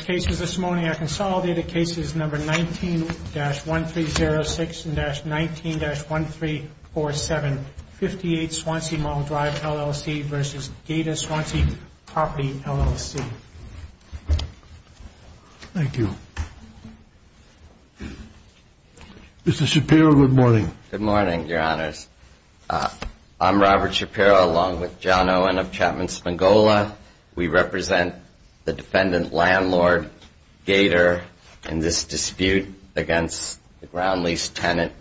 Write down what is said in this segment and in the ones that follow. cases number 19-1306-19-1347 58 Swansea Mall Drive LLC v. Gator Swansea Property LLC Thank you. Mr. Shapiro, good morning. Good morning, Your Honors. I'm Robert Shapiro along with John Owen of Chapman Spangola. We represent the defendant, landlord, and owner of Gator Swansea Mall Drive LLC. Gator in this dispute against the ground lease tenant,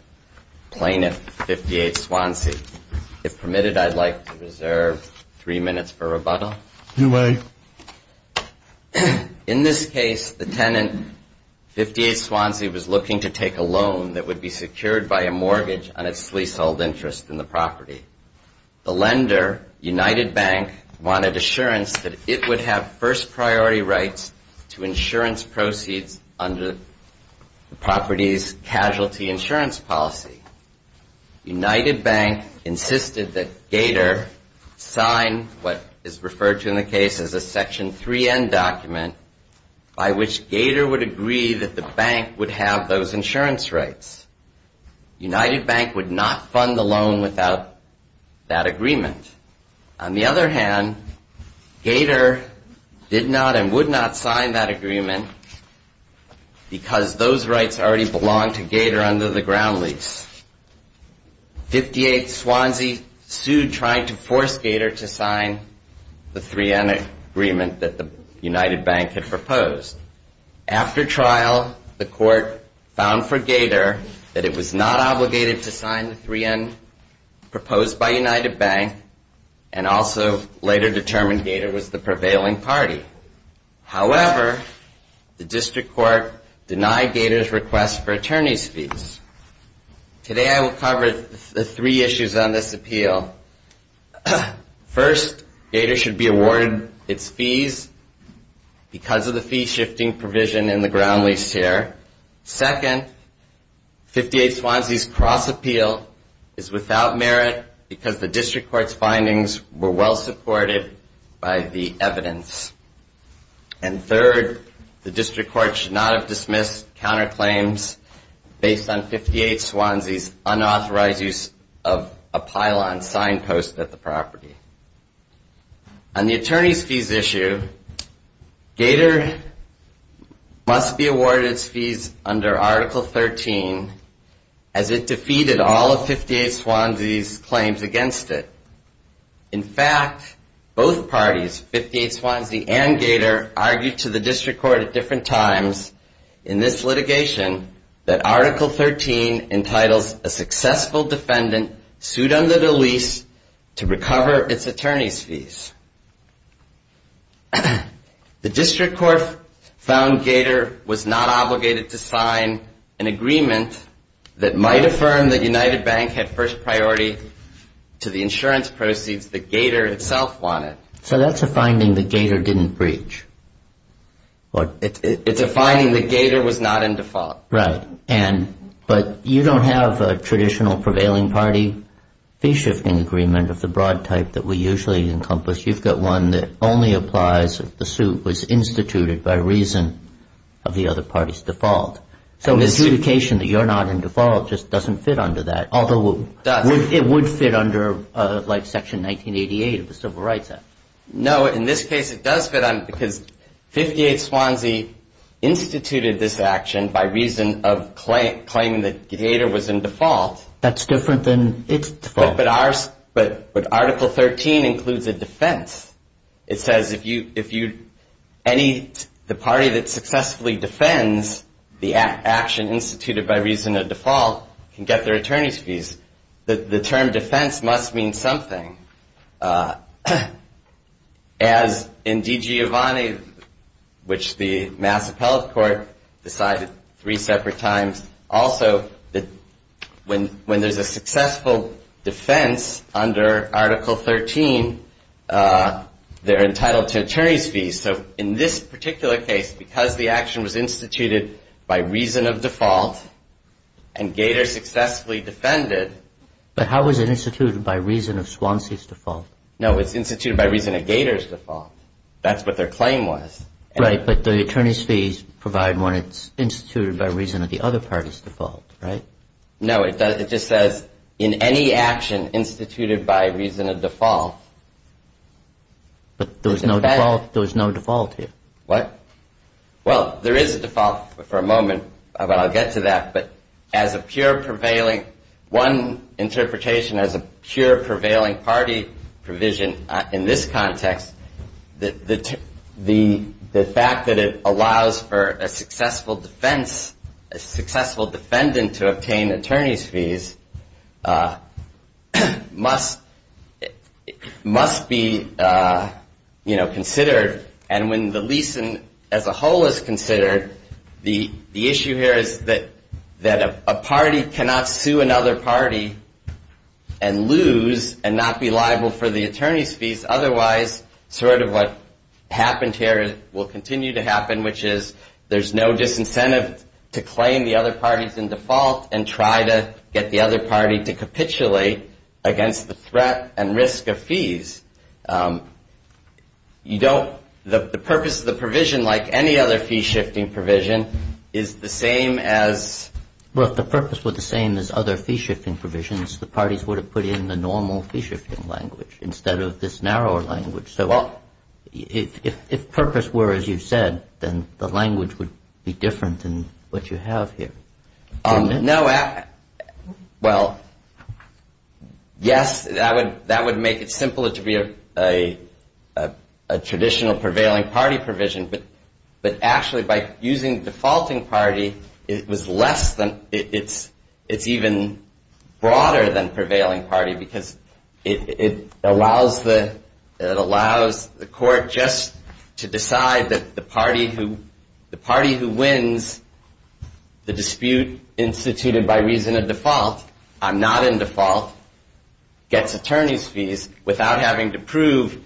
plaintiff, 58 Swansea. If permitted, I'd like to reserve three minutes for rebuttal. You may. In this case, the tenant, 58 Swansea, was looking to take a loan that would be secured by a mortgage on its leasehold interest in the property. The lender, United Bank, wanted assurance that it would have first priority rights to insurance proceeds under the property's casualty insurance policy. United Bank insisted that Gator sign what is referred to in the case as a Section 3N document by which Gator would agree that the bank would have those insurance rights. United Bank would not fund the loan without that agreement. On the other hand, Gator did not and would not sign that agreement because those rights already belonged to Gator under the ground lease. 58 Swansea sued trying to force Gator to sign the 3N agreement that the United Bank had proposed. After trial, the court found for Gator that it was not obligated to sign the 3N proposed by United Bank and also later determined Gator was the prevailing party. However, the district court denied Gator's request for attorney's fees. Today I will cover the three issues on this appeal. First, Gator should be awarded its fees because of the fee shifting provision in the ground lease here. Second, 58 Swansea's cross appeal is without merit because the district court's findings were well supported by the evidence. And third, the district court should not have dismissed counterclaims based on 58 Swansea's unauthorized use of a pylon sign post at the property. On the attorney's fees issue, Gator must be awarded its fees under Article 13 as it defeated all of 58 Swansea's claims against it. In fact, both parties, 58 Swansea and Gator, argued to the district court at different times in this litigation that Article 13 entitles a successful defendant sued under the lease to recover its attorney's fees. The district court found Gator was not obligated to sign an agreement that might affirm that United Bank had first priority to the insurance proceeds that Gator itself wanted. So that's a finding that Gator didn't breach. No, in this case it does fit because 58 Swansea instituted this action by reason of claiming that Gator was in default. That's different than its default. But Article 13 includes a defense. It says if the party that successfully defends the action instituted by reason of default can get their attorney's fees, the term defense must mean something. As in DiGiovanni, which the Mass Appellate Court decided three separate times, also that when there's a successful defense under Article 13, they're entitled to attorney's fees. So in this particular case, because the action was instituted by reason of default and Gator successfully defended. But how was it instituted by reason of Swansea's default? No, it's instituted by reason of Gator's default. That's what their claim was. Right, but the attorney's fees provide when it's instituted by reason of the other party's default, right? No, it just says in any action instituted by reason of default. But there was no default here. What? Well, there is a default for a moment, but I'll get to that. But as a pure prevailing, one interpretation as a pure prevailing party provision in this context, the fact that it allows for a successful defense, a successful defendant to obtain attorney's fees, must be, you know, considered. And when the leasing as a whole is considered, the issue here is that a party cannot sue another party and lose and not be liable for the attorney's fees. Otherwise, sort of what happened here will continue to happen, which is there's no disincentive to claim the other party's default and try to get the other party to capitulate against the threat and risk of fees. You don't – the purpose of the provision, like any other fee-shifting provision, is the same as – Well, if the purpose were the same as other fee-shifting provisions, the parties would have put in the normal fee-shifting language instead of this narrower language. So if purpose were as you said, then the language would be different than what you have here. No – well, yes, that would make it simpler to be a traditional prevailing party provision. But actually, by using defaulting party, it was less than – it's even broader than prevailing party because it allows the court just to decide that the party who wins the dispute instituted by reason of default, I'm not in default, gets attorney's fees without having to prove.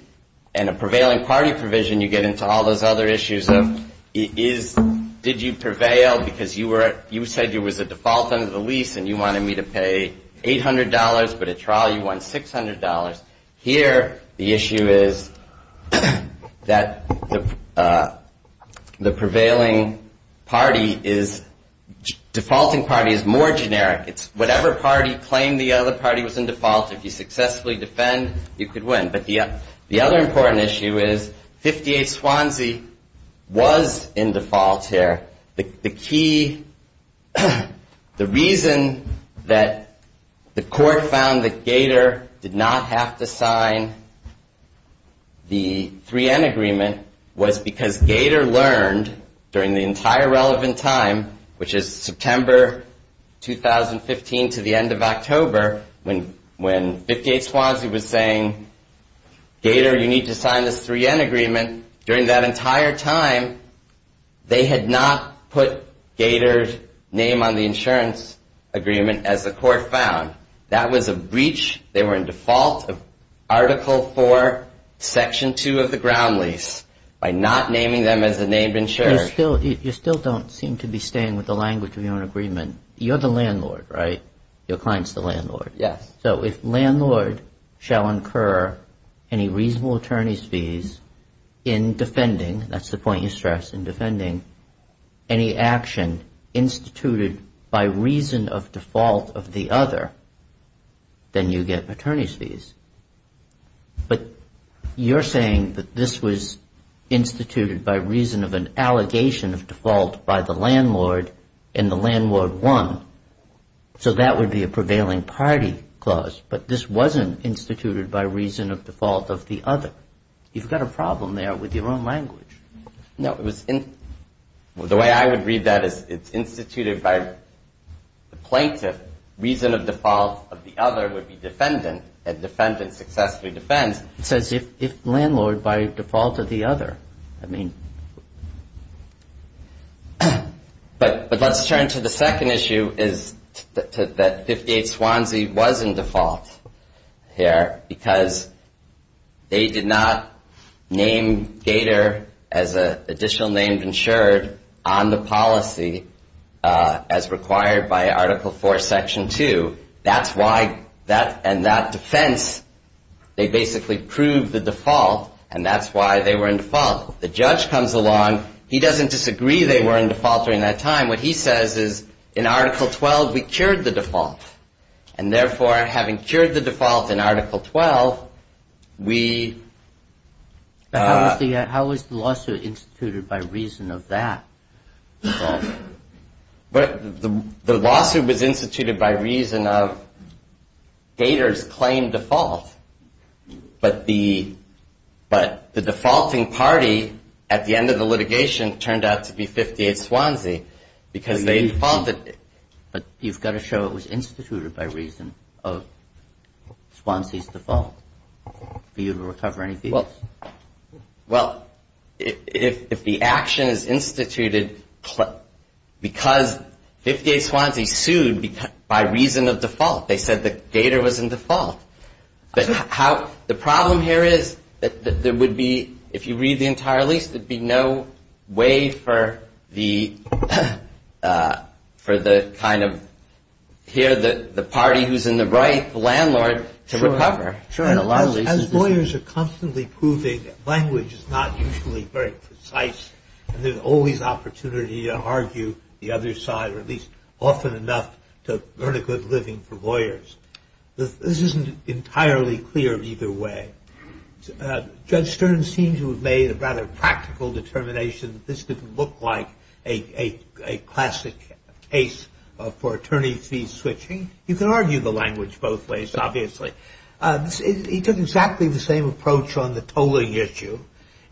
And a prevailing party provision, you get into all those other issues of did you prevail because you said you was a default under the lease and you wanted me to pay $800, but at trial you won $600. Here, the issue is that the prevailing party is – defaulting party is more generic. It's whatever party claimed the other party was in default, if you successfully defend, you could win. But the other important issue is 58 Swansea was in default here. The key – the reason that the court found that Gator did not have to sign the 3N agreement was because Gator learned during the entire relevant time, which is September 2015 to the end of October, when 58 Swansea was saying, Gator, you need to sign this 3N agreement, during that entire time, they had not put Gator's name on the insurance agreement as the court found. That was a breach. They were in default of Article 4, Section 2 of the ground lease by not naming them as a named insurer. You still don't seem to be staying with the language of your own agreement. You're the landlord, right? Your client's the landlord. Yes. So if landlord shall incur any reasonable attorney's fees in defending – that's the point you stress, in defending – any action instituted by reason of default of the other, then you get attorney's fees. But you're saying that this was instituted by reason of an allegation of default by the landlord and the landlord won. So that would be a prevailing party clause. But this wasn't instituted by reason of default of the other. You've got a problem there with your own language. No, it was – the way I would read that is it's instituted by the plaintiff, reason of default of the other would be defendant, and defendant successfully defends. It says if landlord by default of the other. But let's turn to the second issue is that 58 Swansea was in default here because they did not name Gator as an additional named insured on the policy as required by Article 4, Section 2. That's why that – and that defense, they basically proved the default, and that's why they were in default. The judge comes along. He doesn't disagree they were in default during that time. What he says is in Article 12, we cured the default. And therefore, having cured the default in Article 12, we – How was the lawsuit instituted by reason of that default? The lawsuit was instituted by reason of Gator's claim default. But the defaulting party at the end of the litigation turned out to be 58 Swansea because they defaulted. But you've got to show it was instituted by reason of Swansea's default for you to recover any fees. Well, if the action is instituted because 58 Swansea sued by reason of default, they said that Gator was in default. But how – the problem here is that there would be – if you read the entire lease, there would be no way for the kind of – here the party who's in the right, the landlord, to recover. Sure. As lawyers are constantly proving, language is not usually very precise. There's always opportunity to argue the other side, or at least often enough to earn a good living for lawyers. This isn't entirely clear either way. Judge Stern seems to have made a rather practical determination that this didn't look like a classic case for attorney fee switching. You can argue the language both ways, obviously. He took exactly the same approach on the tolling issue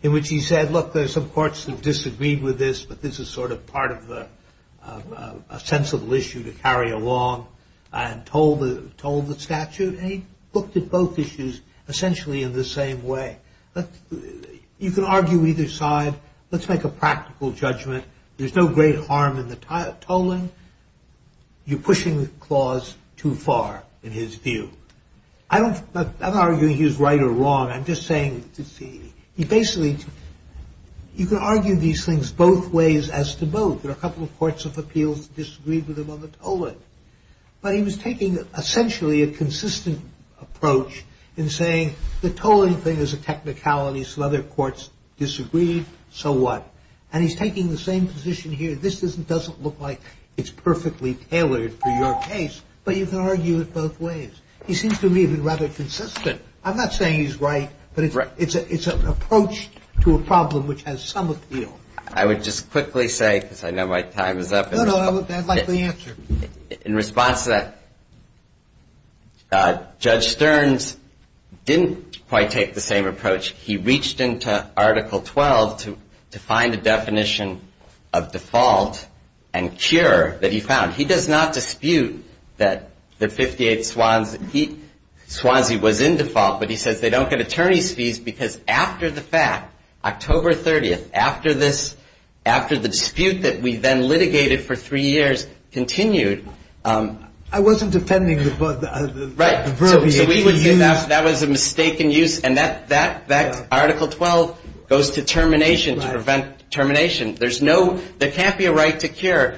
in which he said, look, there's some courts that disagreed with this, but this is sort of part of a sensible issue to carry along, and told the statute. And he looked at both issues essentially in the same way. You can argue either side. Let's make a practical judgment. There's no great harm in the tolling. You're pushing the clause too far in his view. I'm not arguing he was right or wrong. I'm just saying he basically – you can argue these things both ways as to both. There are a couple of courts of appeals that disagreed with him on the tolling. But he was taking essentially a consistent approach in saying the tolling thing is a technicality. Some other courts disagreed, so what? And he's taking the same position here. This doesn't look like it's perfectly tailored for your case, but you can argue it both ways. He seems to me to be rather consistent. I'm not saying he's right, but it's an approach to a problem which has some appeal. I would just quickly say, because I know my time is up. No, no, I'd like the answer. In response to that, Judge Stearns didn't quite take the same approach. He reached into Article 12 to find a definition of default and cure that he found. He does not dispute that the 58 Swansea was in default, but he says they don't get attorney's fees because after the fact, October 30th, after the dispute that we then litigated for three years continued. I wasn't defending the verbiage. That was a mistaken use, and that Article 12 goes to termination to prevent termination. There can't be a right to cure.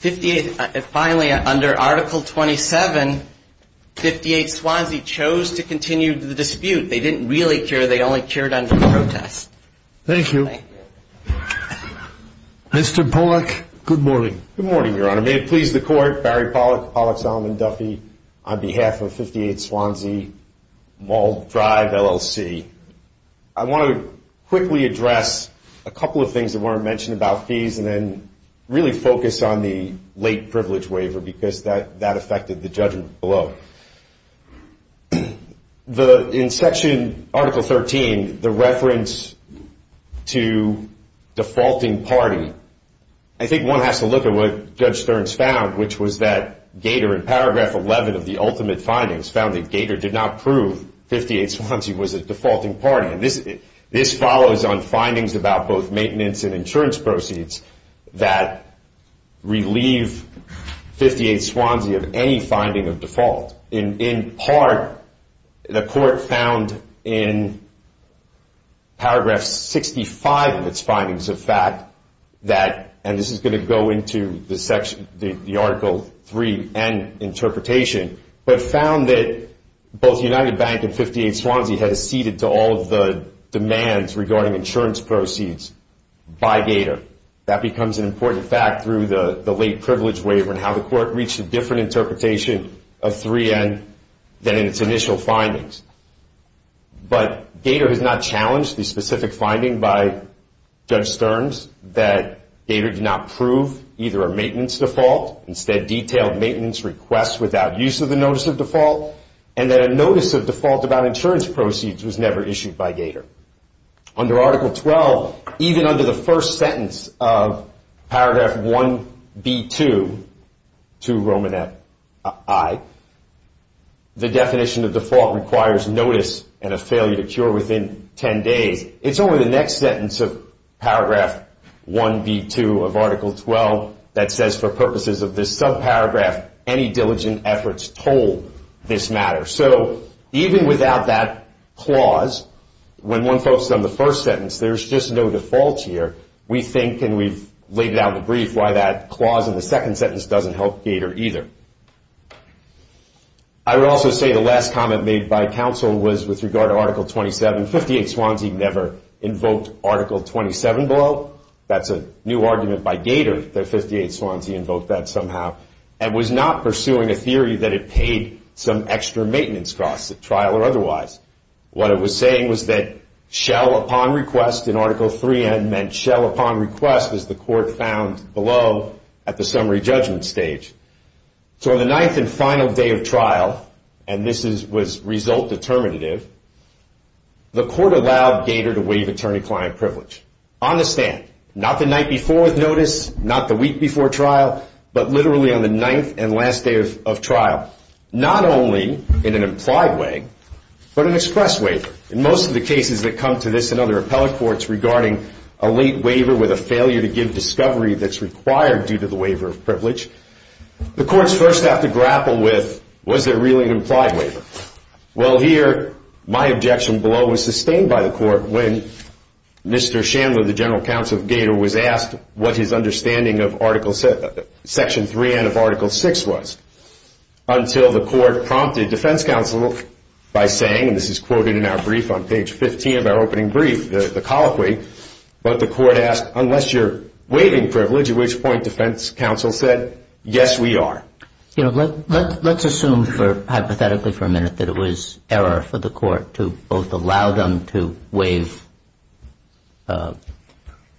Finally, under Article 27, 58 Swansea chose to continue the dispute. They didn't really cure. They only cured under the protest. Thank you. Mr. Pollack, good morning. Good morning, Your Honor. May it please the Court, Barry Pollack, Pollack, Solomon, Duffy, on behalf of 58 Swansea Mall Drive LLC, I want to quickly address a couple of things that weren't mentioned about fees and then really focus on the late privilege waiver because that affected the judgment below. In Section Article 13, the reference to defaulting party, I think one has to look at what Judge Stearns found, which was that Gator in Paragraph 11 of the ultimate findings found that Gator did not prove 58 Swansea was a defaulting party. This follows on findings about both maintenance and insurance proceeds that relieve 58 Swansea of any finding of default. In part, the Court found in Paragraph 65 of its findings the fact that, and this is going to go into the Article 3 and interpretation, but found that both United Bank and 58 Swansea had acceded to all of the demands regarding insurance proceeds by Gator. That becomes an important fact through the late privilege waiver and how the Court reached a different interpretation of 3N than in its initial findings. But Gator has not challenged the specific finding by Judge Stearns that Gator did not prove either a maintenance default, instead detailed maintenance requests without use of the notice of default, and that a notice of default about insurance proceeds was never issued by Gator. Under Article 12, even under the first sentence of Paragraph 1B2 to Romanet I, the definition of default requires notice and a failure to cure within 10 days. It's only the next sentence of Paragraph 1B2 of Article 12 that says, for purposes of this subparagraph, any diligent efforts told this matter. So even without that clause, when one focuses on the first sentence, there's just no default here. We think, and we've laid it out in the brief, why that clause in the second sentence doesn't help Gator either. I would also say the last comment made by counsel was with regard to Article 27. 58 Swansea never invoked Article 27 below. That's a new argument by Gator that 58 Swansea invoked that somehow and was not pursuing a theory that it paid some extra maintenance costs at trial or otherwise. What it was saying was that shell upon request in Article 3N meant shell upon request as the court found below at the summary judgment stage. So on the ninth and final day of trial, and this was result determinative, the court allowed Gator to waive attorney-client privilege on the stand. Not the night before with notice, not the week before trial, but literally on the ninth and last day of trial. Not only in an implied way, but an express waiver. In most of the cases that come to this and other appellate courts regarding a late waiver with a failure to give discovery that's required due to the waiver of privilege, the courts first have to grapple with, was there really an implied waiver? Well, here my objection below was sustained by the court when Mr. Chandler, the general counsel of Gator, was asked what his understanding of Section 3N of Article 6 was until the court prompted defense counsel by saying, and this is quoted in our brief on page 15 of our opening brief, the colloquy, but the court asked, unless you're waiving privilege, at which point defense counsel said, yes, we are. You know, let's assume for, hypothetically for a minute, that it was error for the court to both allow them to waive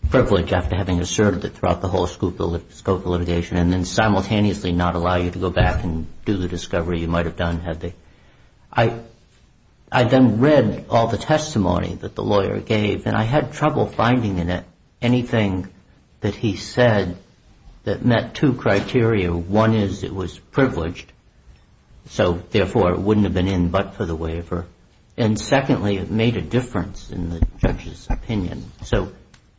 privilege after having asserted it throughout the whole scope of litigation and then simultaneously not allow you to go back and do the discovery you might have done had they. I then read all the testimony that the lawyer gave and I had trouble finding in it anything that he said that met two criteria. One is it was privileged, so therefore it wouldn't have been in but for the waiver. And secondly, it made a difference in the judge's opinion. So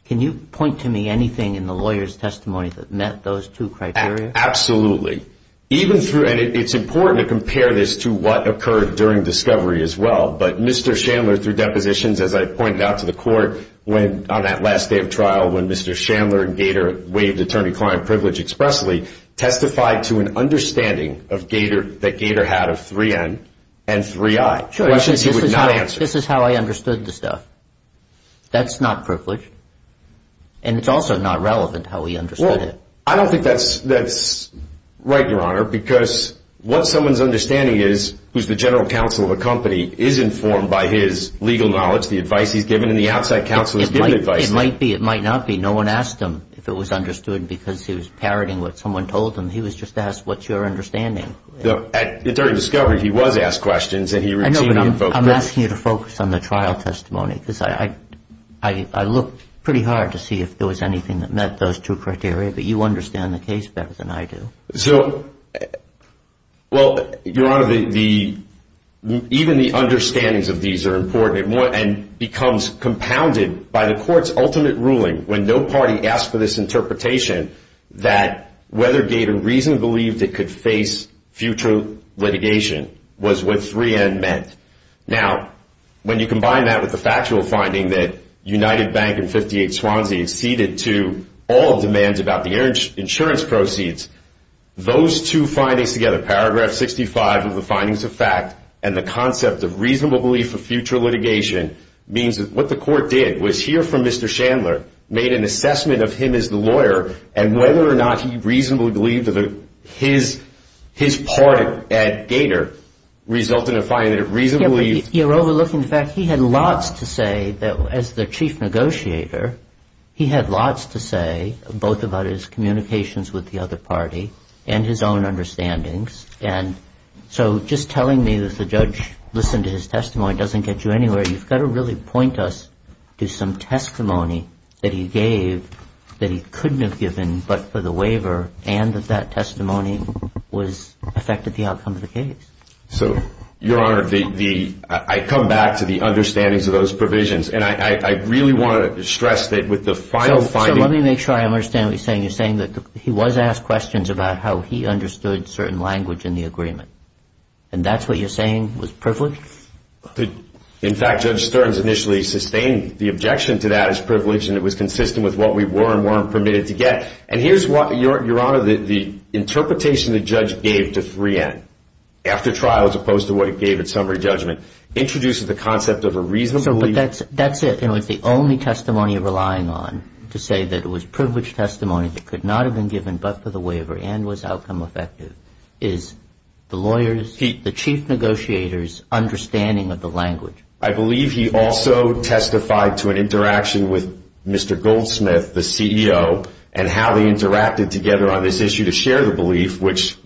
can you point to me anything in the lawyer's testimony that met those two criteria? Absolutely. Even through, and it's important to compare this to what occurred during discovery as well, but Mr. Chandler through depositions, as I pointed out to the court, on that last day of trial when Mr. Chandler and Gater waived attorney-client privilege expressly, testified to an understanding that Gater had of 3N and 3I, questions he would not answer. This is how I understood the stuff. That's not privileged and it's also not relevant how he understood it. Well, I don't think that's right, Your Honor, because what someone's understanding is, who's the general counsel of a company, is informed by his legal knowledge, the advice he's given, and the outside counsel has given advice to him. It might be, it might not be. No one asked him if it was understood because he was parroting what someone told him. He was just asked, what's your understanding? At the time of discovery, he was asked questions and he routinely invoked those. I'm asking you to focus on the trial testimony because I looked pretty hard to see if there was anything that met those two criteria, but you understand the case better than I do. So, well, Your Honor, even the understandings of these are important and becomes compounded by the court's ultimate ruling when no party asked for this interpretation that whether Gater reasonably believed it could face future litigation was what 3N meant. Now, when you combine that with the factual finding that United Bank and 58 Swansea conceded to all demands about the insurance proceeds, those two findings together, paragraph 65 of the findings of fact and the concept of reasonable belief for future litigation, means that what the court did was hear from Mr. Chandler, made an assessment of him as the lawyer, and whether or not he reasonably believed that his part at Gater resulted in finding that it reasonably. You're overlooking the fact he had lots to say as the chief negotiator. He had lots to say, both about his communications with the other party and his own understandings. And so just telling me that the judge listened to his testimony doesn't get you anywhere. You've got to really point us to some testimony that he gave that he couldn't have given but for the waiver and that that testimony affected the outcome of the case. So, Your Honor, I come back to the understandings of those provisions. And I really want to stress that with the final finding So let me make sure I understand what you're saying. You're saying that he was asked questions about how he understood certain language in the agreement. And that's what you're saying was privilege? In fact, Judge Stearns initially sustained the objection to that as privilege, and it was consistent with what we were and weren't permitted to get. And here's what, Your Honor, the interpretation the judge gave to 3N, after trial as opposed to what it gave at summary judgment, introduces the concept of a reasonable But that's it. You know, it's the only testimony you're relying on to say that it was privilege testimony that could not have been given but for the waiver and was outcome effective, is the lawyer's, the chief negotiator's understanding of the language. I believe he also testified to an interaction with Mr. Goldsmith, the CEO, and how they interacted together on this issue to share the belief which,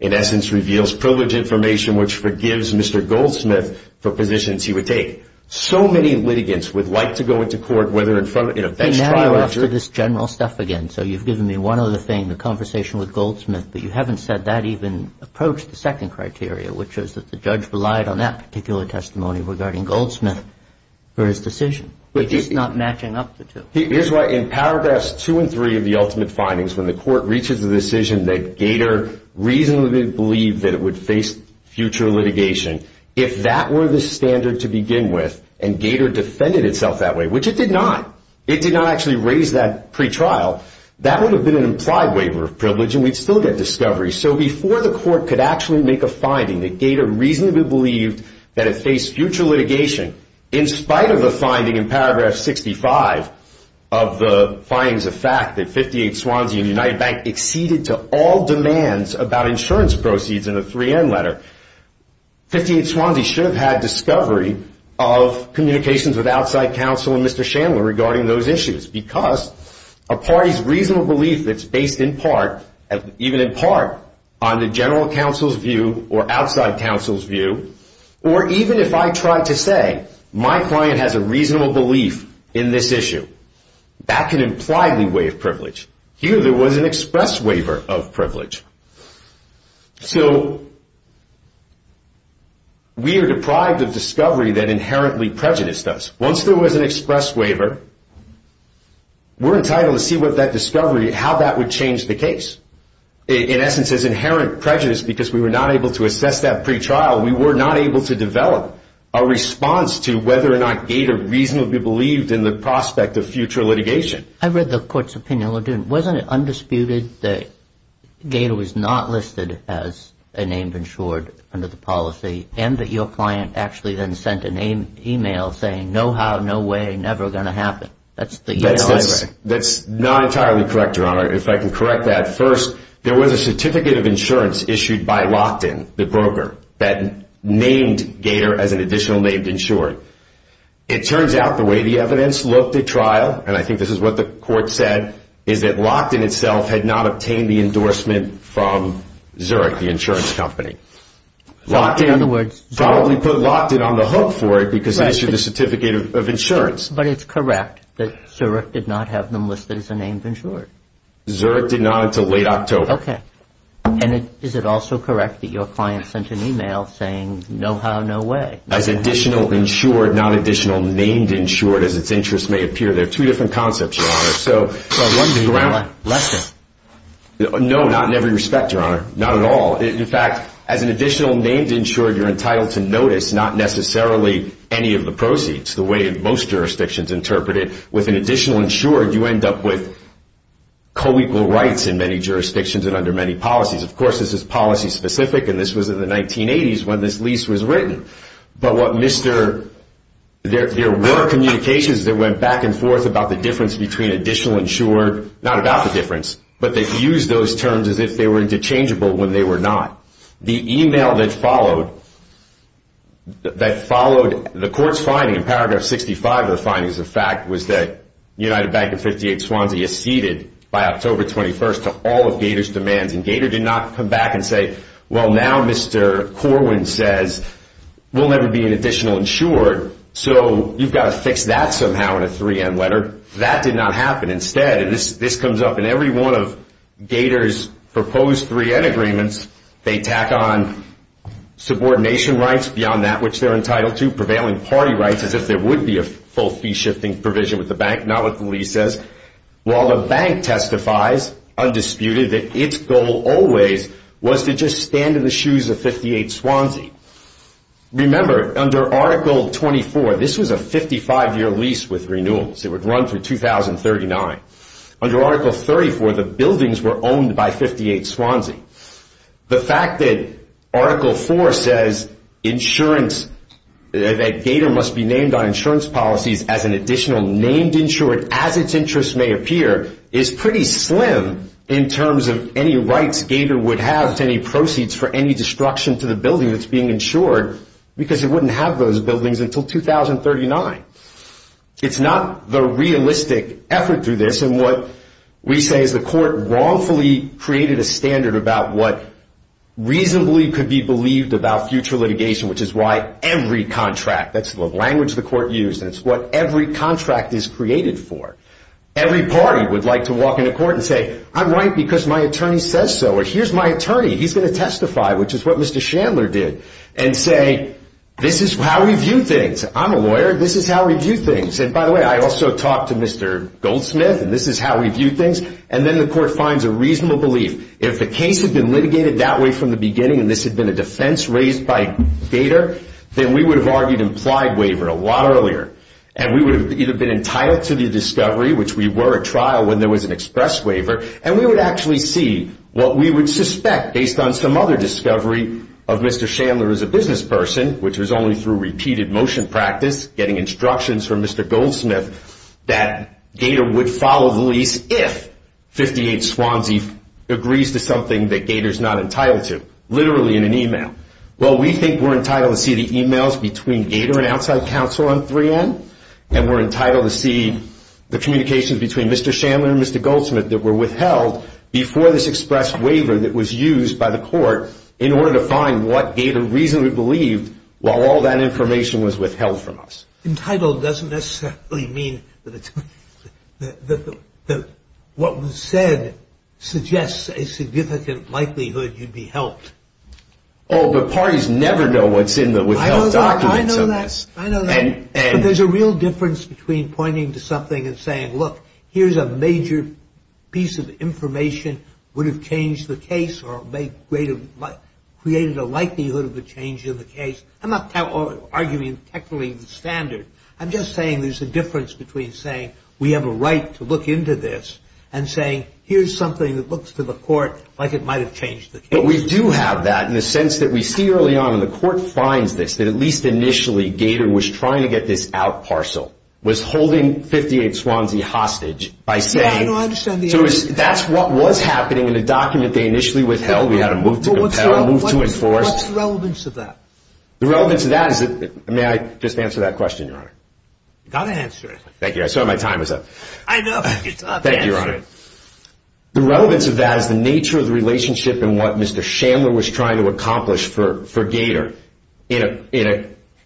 in essence, reveals privilege information which forgives Mr. Goldsmith for positions he would take. So many litigants would like to go into court, whether in a bench trial or jury. And now you're off to this general stuff again. So you've given me one other thing, the conversation with Goldsmith, but you haven't said that even approached the second criteria, which is that the judge relied on that particular testimony regarding Goldsmith for his decision, which is not matching up the two. Here's why, in paragraphs 2 and 3 of the ultimate findings, when the court reaches a decision that Gator reasonably believed that it would face future litigation, if that were the standard to begin with and Gator defended itself that way, which it did not, it did not actually raise that pretrial, that would have been an implied waiver of privilege and we'd still get discovery. So before the court could actually make a finding that Gator reasonably believed that it faced future litigation, in spite of the finding in paragraph 65 of the findings of fact that 58 Swansea and United Bank exceeded to all demands about insurance proceeds in the 3N letter, 58 Swansea should have had discovery of communications with outside counsel and Mr. Chandler regarding those issues because a party's reasonable belief that's based in part, even in part, on the general counsel's view or outside counsel's view, or even if I tried to say my client has a reasonable belief in this issue, that can imply the way of privilege. Here there was an express waiver of privilege. So we are deprived of discovery that inherently prejudiced us. Once there was an express waiver, we're entitled to see what that discovery, how that would change the case. In essence, it's inherent prejudice because we were not able to assess that pretrial. We were not able to develop a response to whether or not Gator reasonably believed in the prospect of future litigation. I read the court's opinion. Wasn't it undisputed that Gator was not listed as a named insured under the policy and that your client actually then sent an email saying no how, no way, never going to happen? That's not entirely correct, Your Honor. If I can correct that. First, there was a certificate of insurance issued by Lockton, the broker, that named Gator as an additional named insured. It turns out the way the evidence looked at trial, and I think this is what the court said, is that Lockton itself had not obtained the endorsement from Zurich, the insurance company. Lockton probably put Lockton on the hook for it because he issued a certificate of insurance. But it's correct that Zurich did not have them listed as a named insured. Zurich did not until late October. Okay. And is it also correct that your client sent an email saying no how, no way? As additional insured, not additional named insured as its interest may appear. They're two different concepts, Your Honor. So one's the ground. Less than? No, not in every respect, Your Honor. Not at all. In fact, as an additional named insured, you're entitled to notice not necessarily any of the proceeds, the way most jurisdictions interpret it. With an additional insured, you end up with co-equal rights in many jurisdictions and under many policies. Of course, this is policy specific, and this was in the 1980s when this lease was written. But what Mr. – there were communications that went back and forth about the difference between additional insured, not about the difference, but they used those terms as if they were interchangeable when they were not. The email that followed, that followed the court's finding in paragraph 65 of the findings of fact, was that United Bank of 58, Swansea, acceded by October 21st to all of Gator's demands. And Gator did not come back and say, well, now Mr. Corwin says we'll never be an additional insured, so you've got to fix that somehow in a 3M letter. That did not happen. Instead, and this comes up in every one of Gator's proposed 3M agreements, they tack on subordination rights beyond that which they're entitled to, prevailing party rights, as if there would be a full fee-shifting provision with the bank, not what the lease says, while the bank testifies, undisputed, that its goal always was to just stand in the shoes of 58, Swansea. Remember, under Article 24, this was a 55-year lease with renewals. It would run through 2039. Under Article 34, the buildings were owned by 58, Swansea. The fact that Article 4 says insurance, that Gator must be named on insurance policies as an additional named insured, as its interests may appear, is pretty slim in terms of any rights Gator would have to any proceeds for any destruction to the building that's being insured, because it wouldn't have those buildings until 2039. It's not the realistic effort through this, and what we say is the court wrongfully created a standard about what reasonably could be believed about future litigation, which is why every contract, that's the language the court used, and it's what every contract is created for. Every party would like to walk into court and say, I'm right because my attorney says so, or here's my attorney. He's going to testify, which is what Mr. Chandler did, and say, this is how we view things. I'm a lawyer. This is how we view things, and by the way, I also talked to Mr. Goldsmith, and this is how we view things, and then the court finds a reasonable belief. If the case had been litigated that way from the beginning and this had been a defense raised by Gator, then we would have argued implied waiver a lot earlier, and we would have either been entitled to the discovery, which we were at trial when there was an express waiver, and we would actually see what we would suspect based on some other discovery of Mr. Chandler as a business person, which was only through repeated motion practice, getting instructions from Mr. Goldsmith, that Gator would follow the lease if 58 Swansea agrees to something that Gator's not entitled to, literally in an e-mail. Well, we think we're entitled to see the e-mails between Gator and outside counsel on 3N, and we're entitled to see the communications between Mr. Chandler and Mr. Goldsmith that were withheld before this express waiver that was used by the court in order to find what Gator reasonably believed while all that information was withheld from us. Entitled doesn't necessarily mean that what was said suggests a significant likelihood you'd be helped. Oh, but parties never know what's in the withheld documents. I know that. I know that. There's a difference between pointing to something and saying, look, here's a major piece of information, would have changed the case or created a likelihood of a change in the case. I'm not arguing technically the standard. I'm just saying there's a difference between saying we have a right to look into this and saying here's something that looks to the court like it might have changed the case. But we do have that in the sense that we see early on, and the court finds this, that at least initially Gator was trying to get this out parcel, was holding 58 Swansea hostage by saying so that's what was happening in the document they initially withheld. We had a move to compel, a move to enforce. What's the relevance of that? The relevance of that is that, may I just answer that question, Your Honor? You've got to answer it. Thank you. I saw my time was up. I know, but you've got to answer it. Thank you, Your Honor. The relevance of that is the nature of the relationship and what Mr. Chandler was trying to accomplish for Gator. In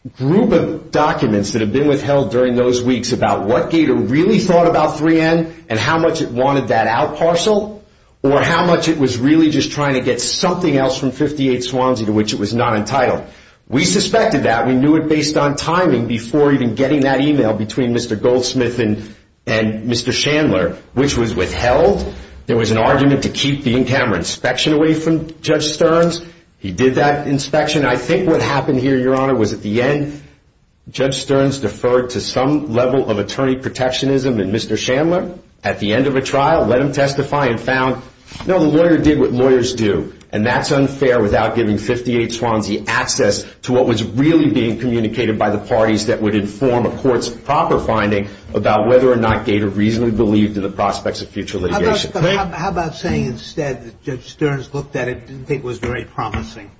a group of documents that have been withheld during those weeks about what Gator really thought about 3N and how much it wanted that out parcel or how much it was really just trying to get something else from 58 Swansea to which it was not entitled. We suspected that. We knew it based on timing before even getting that email between Mr. Goldsmith and Mr. Chandler, which was withheld. There was an argument to keep the in-camera inspection away from Judge Stearns. He did that inspection. I think what happened here, Your Honor, was at the end, Judge Stearns deferred to some level of attorney protectionism and Mr. Chandler, at the end of a trial, let him testify and found, no, the lawyer did what lawyers do, and that's unfair without giving 58 Swansea access to what was really being communicated by the parties that would inform a court's proper finding about whether or not Gator reasonably believed in the prospects of future litigation. How about saying instead that Judge Stearns looked at it and didn't think it was very promising?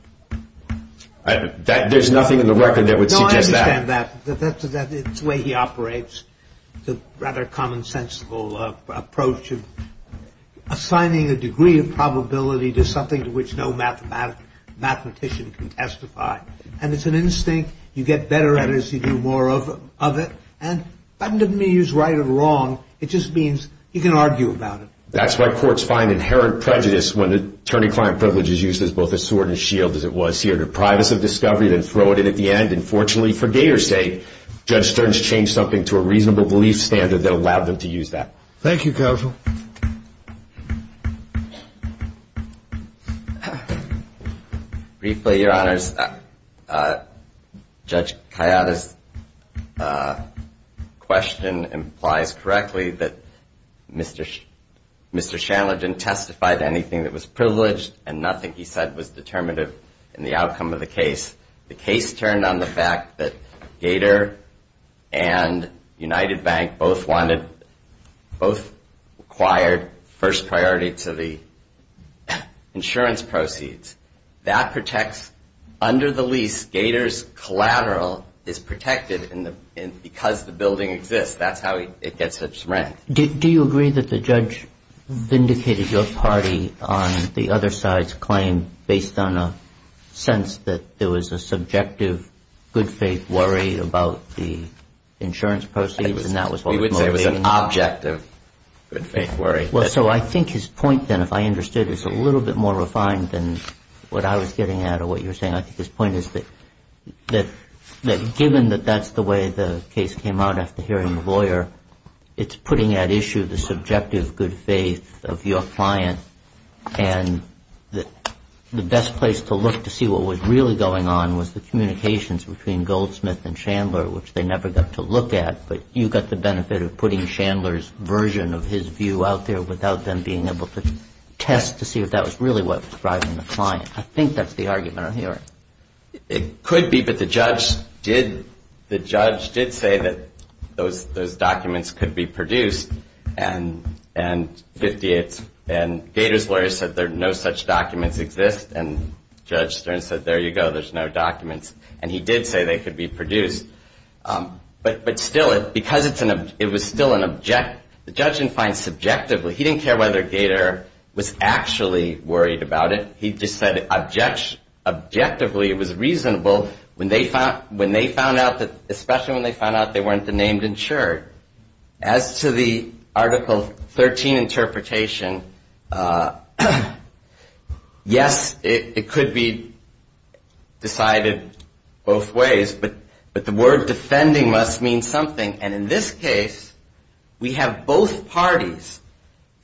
There's nothing in the record that would suggest that. No, I understand that. It's the way he operates, the rather commonsensical approach of assigning a degree of probability to something to which no mathematician can testify. And it's an instinct. You get better at it as you do more of it. And that doesn't mean you're right or wrong. It just means you can argue about it. That's why courts find inherent prejudice when attorney-client privilege is used as both a sword and shield, as it was here, deprive us of discovery, then throw it in at the end. And fortunately for Gator's sake, Judge Stearns changed something to a reasonable belief standard that allowed them to use that. Thank you, counsel. Briefly, Your Honors, Judge Kayada's question implies correctly that Mr. Shandler didn't testify to anything that was privileged and nothing he said was determinative in the outcome of the case. The case turned on the fact that Gator and United Bank both wanted, both required first priority to the insurance proceeds. That protects, under the lease, Gator's collateral is protected because the building exists. That's how it gets its rent. Do you agree that the judge vindicated your party on the other side's claim based on a sense that there was a subjective good-faith worry about the insurance proceeds and that was what was motivating that? We would say it was an objective good-faith worry. Well, so I think his point then, if I understood, is a little bit more refined than what I was getting at or what you were saying. I think his point is that given that that's the way the case came out after hearing the lawyer, it's putting at issue the subjective good-faith of your client and the best place to look to see what was really going on was the communications between Goldsmith and Shandler, which they never got to look at. But you got the benefit of putting Shandler's version of his view out there without them being able to test to see if that was really what was driving the client. I think that's the argument on your end. It could be, but the judge did say that those documents could be produced and Gator's lawyer said there are no such documents exist. And Judge Stern said, there you go, there's no documents. And he did say they could be produced. But still, because it was still an objective, the judge didn't find subjectively, he didn't care whether Gator was actually worried about it. He just said objectively it was reasonable, especially when they found out they weren't named insured. As to the Article 13 interpretation, yes, it could be decided both ways. But the word defending must mean something. And in this case, we have both parties,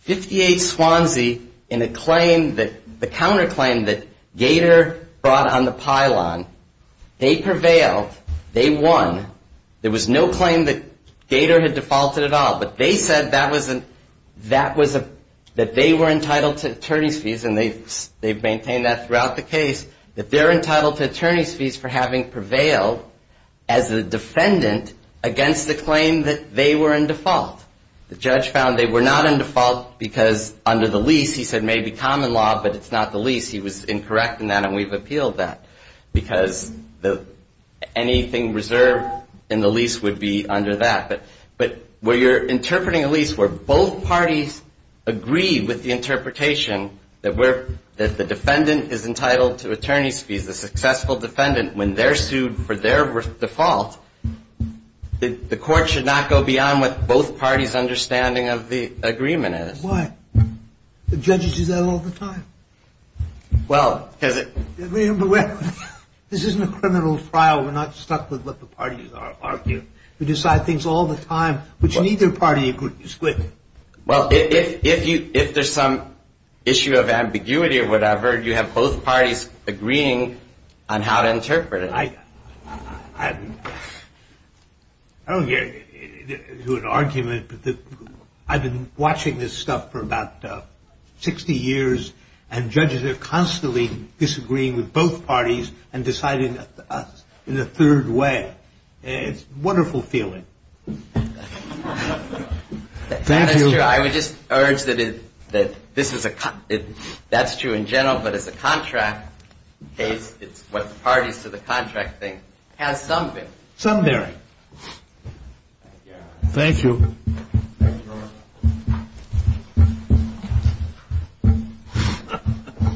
58 Swansea in the counterclaim that Gator brought on the pylon. They prevailed. They won. There was no claim that Gator had defaulted at all. But they said that they were entitled to attorney's fees, and they've maintained that throughout the case, that they're entitled to attorney's fees for having prevailed as a defendant against the claim that they were in default. The judge found they were not in default because under the lease, he said maybe common law, but it's not the lease. He was incorrect in that, and we've appealed that because anything reserved in the lease would be under that. But where you're interpreting a lease where both parties agree with the interpretation that the defendant is entitled to attorney's fees, the successful defendant, when they're sued for their default, the court should not go beyond what both parties' understanding of the agreement is. Why? Do judges do that all the time? Well, because it – This isn't a criminal trial. We're not stuck with what the parties argue. We decide things all the time, which neither party agrees with. Well, if there's some issue of ambiguity or whatever, you have both parties agreeing on how to interpret it. I don't get into an argument, but I've been watching this stuff for about 60 years, and judges are constantly disagreeing with both parties and deciding in a third way. It's a wonderful feeling. Thank you. That is true. I would just urge that this is a – that's true in general, but as a contract case, it's what the parties to the contract think has some bearing. Some bearing. Thank you. Thank you.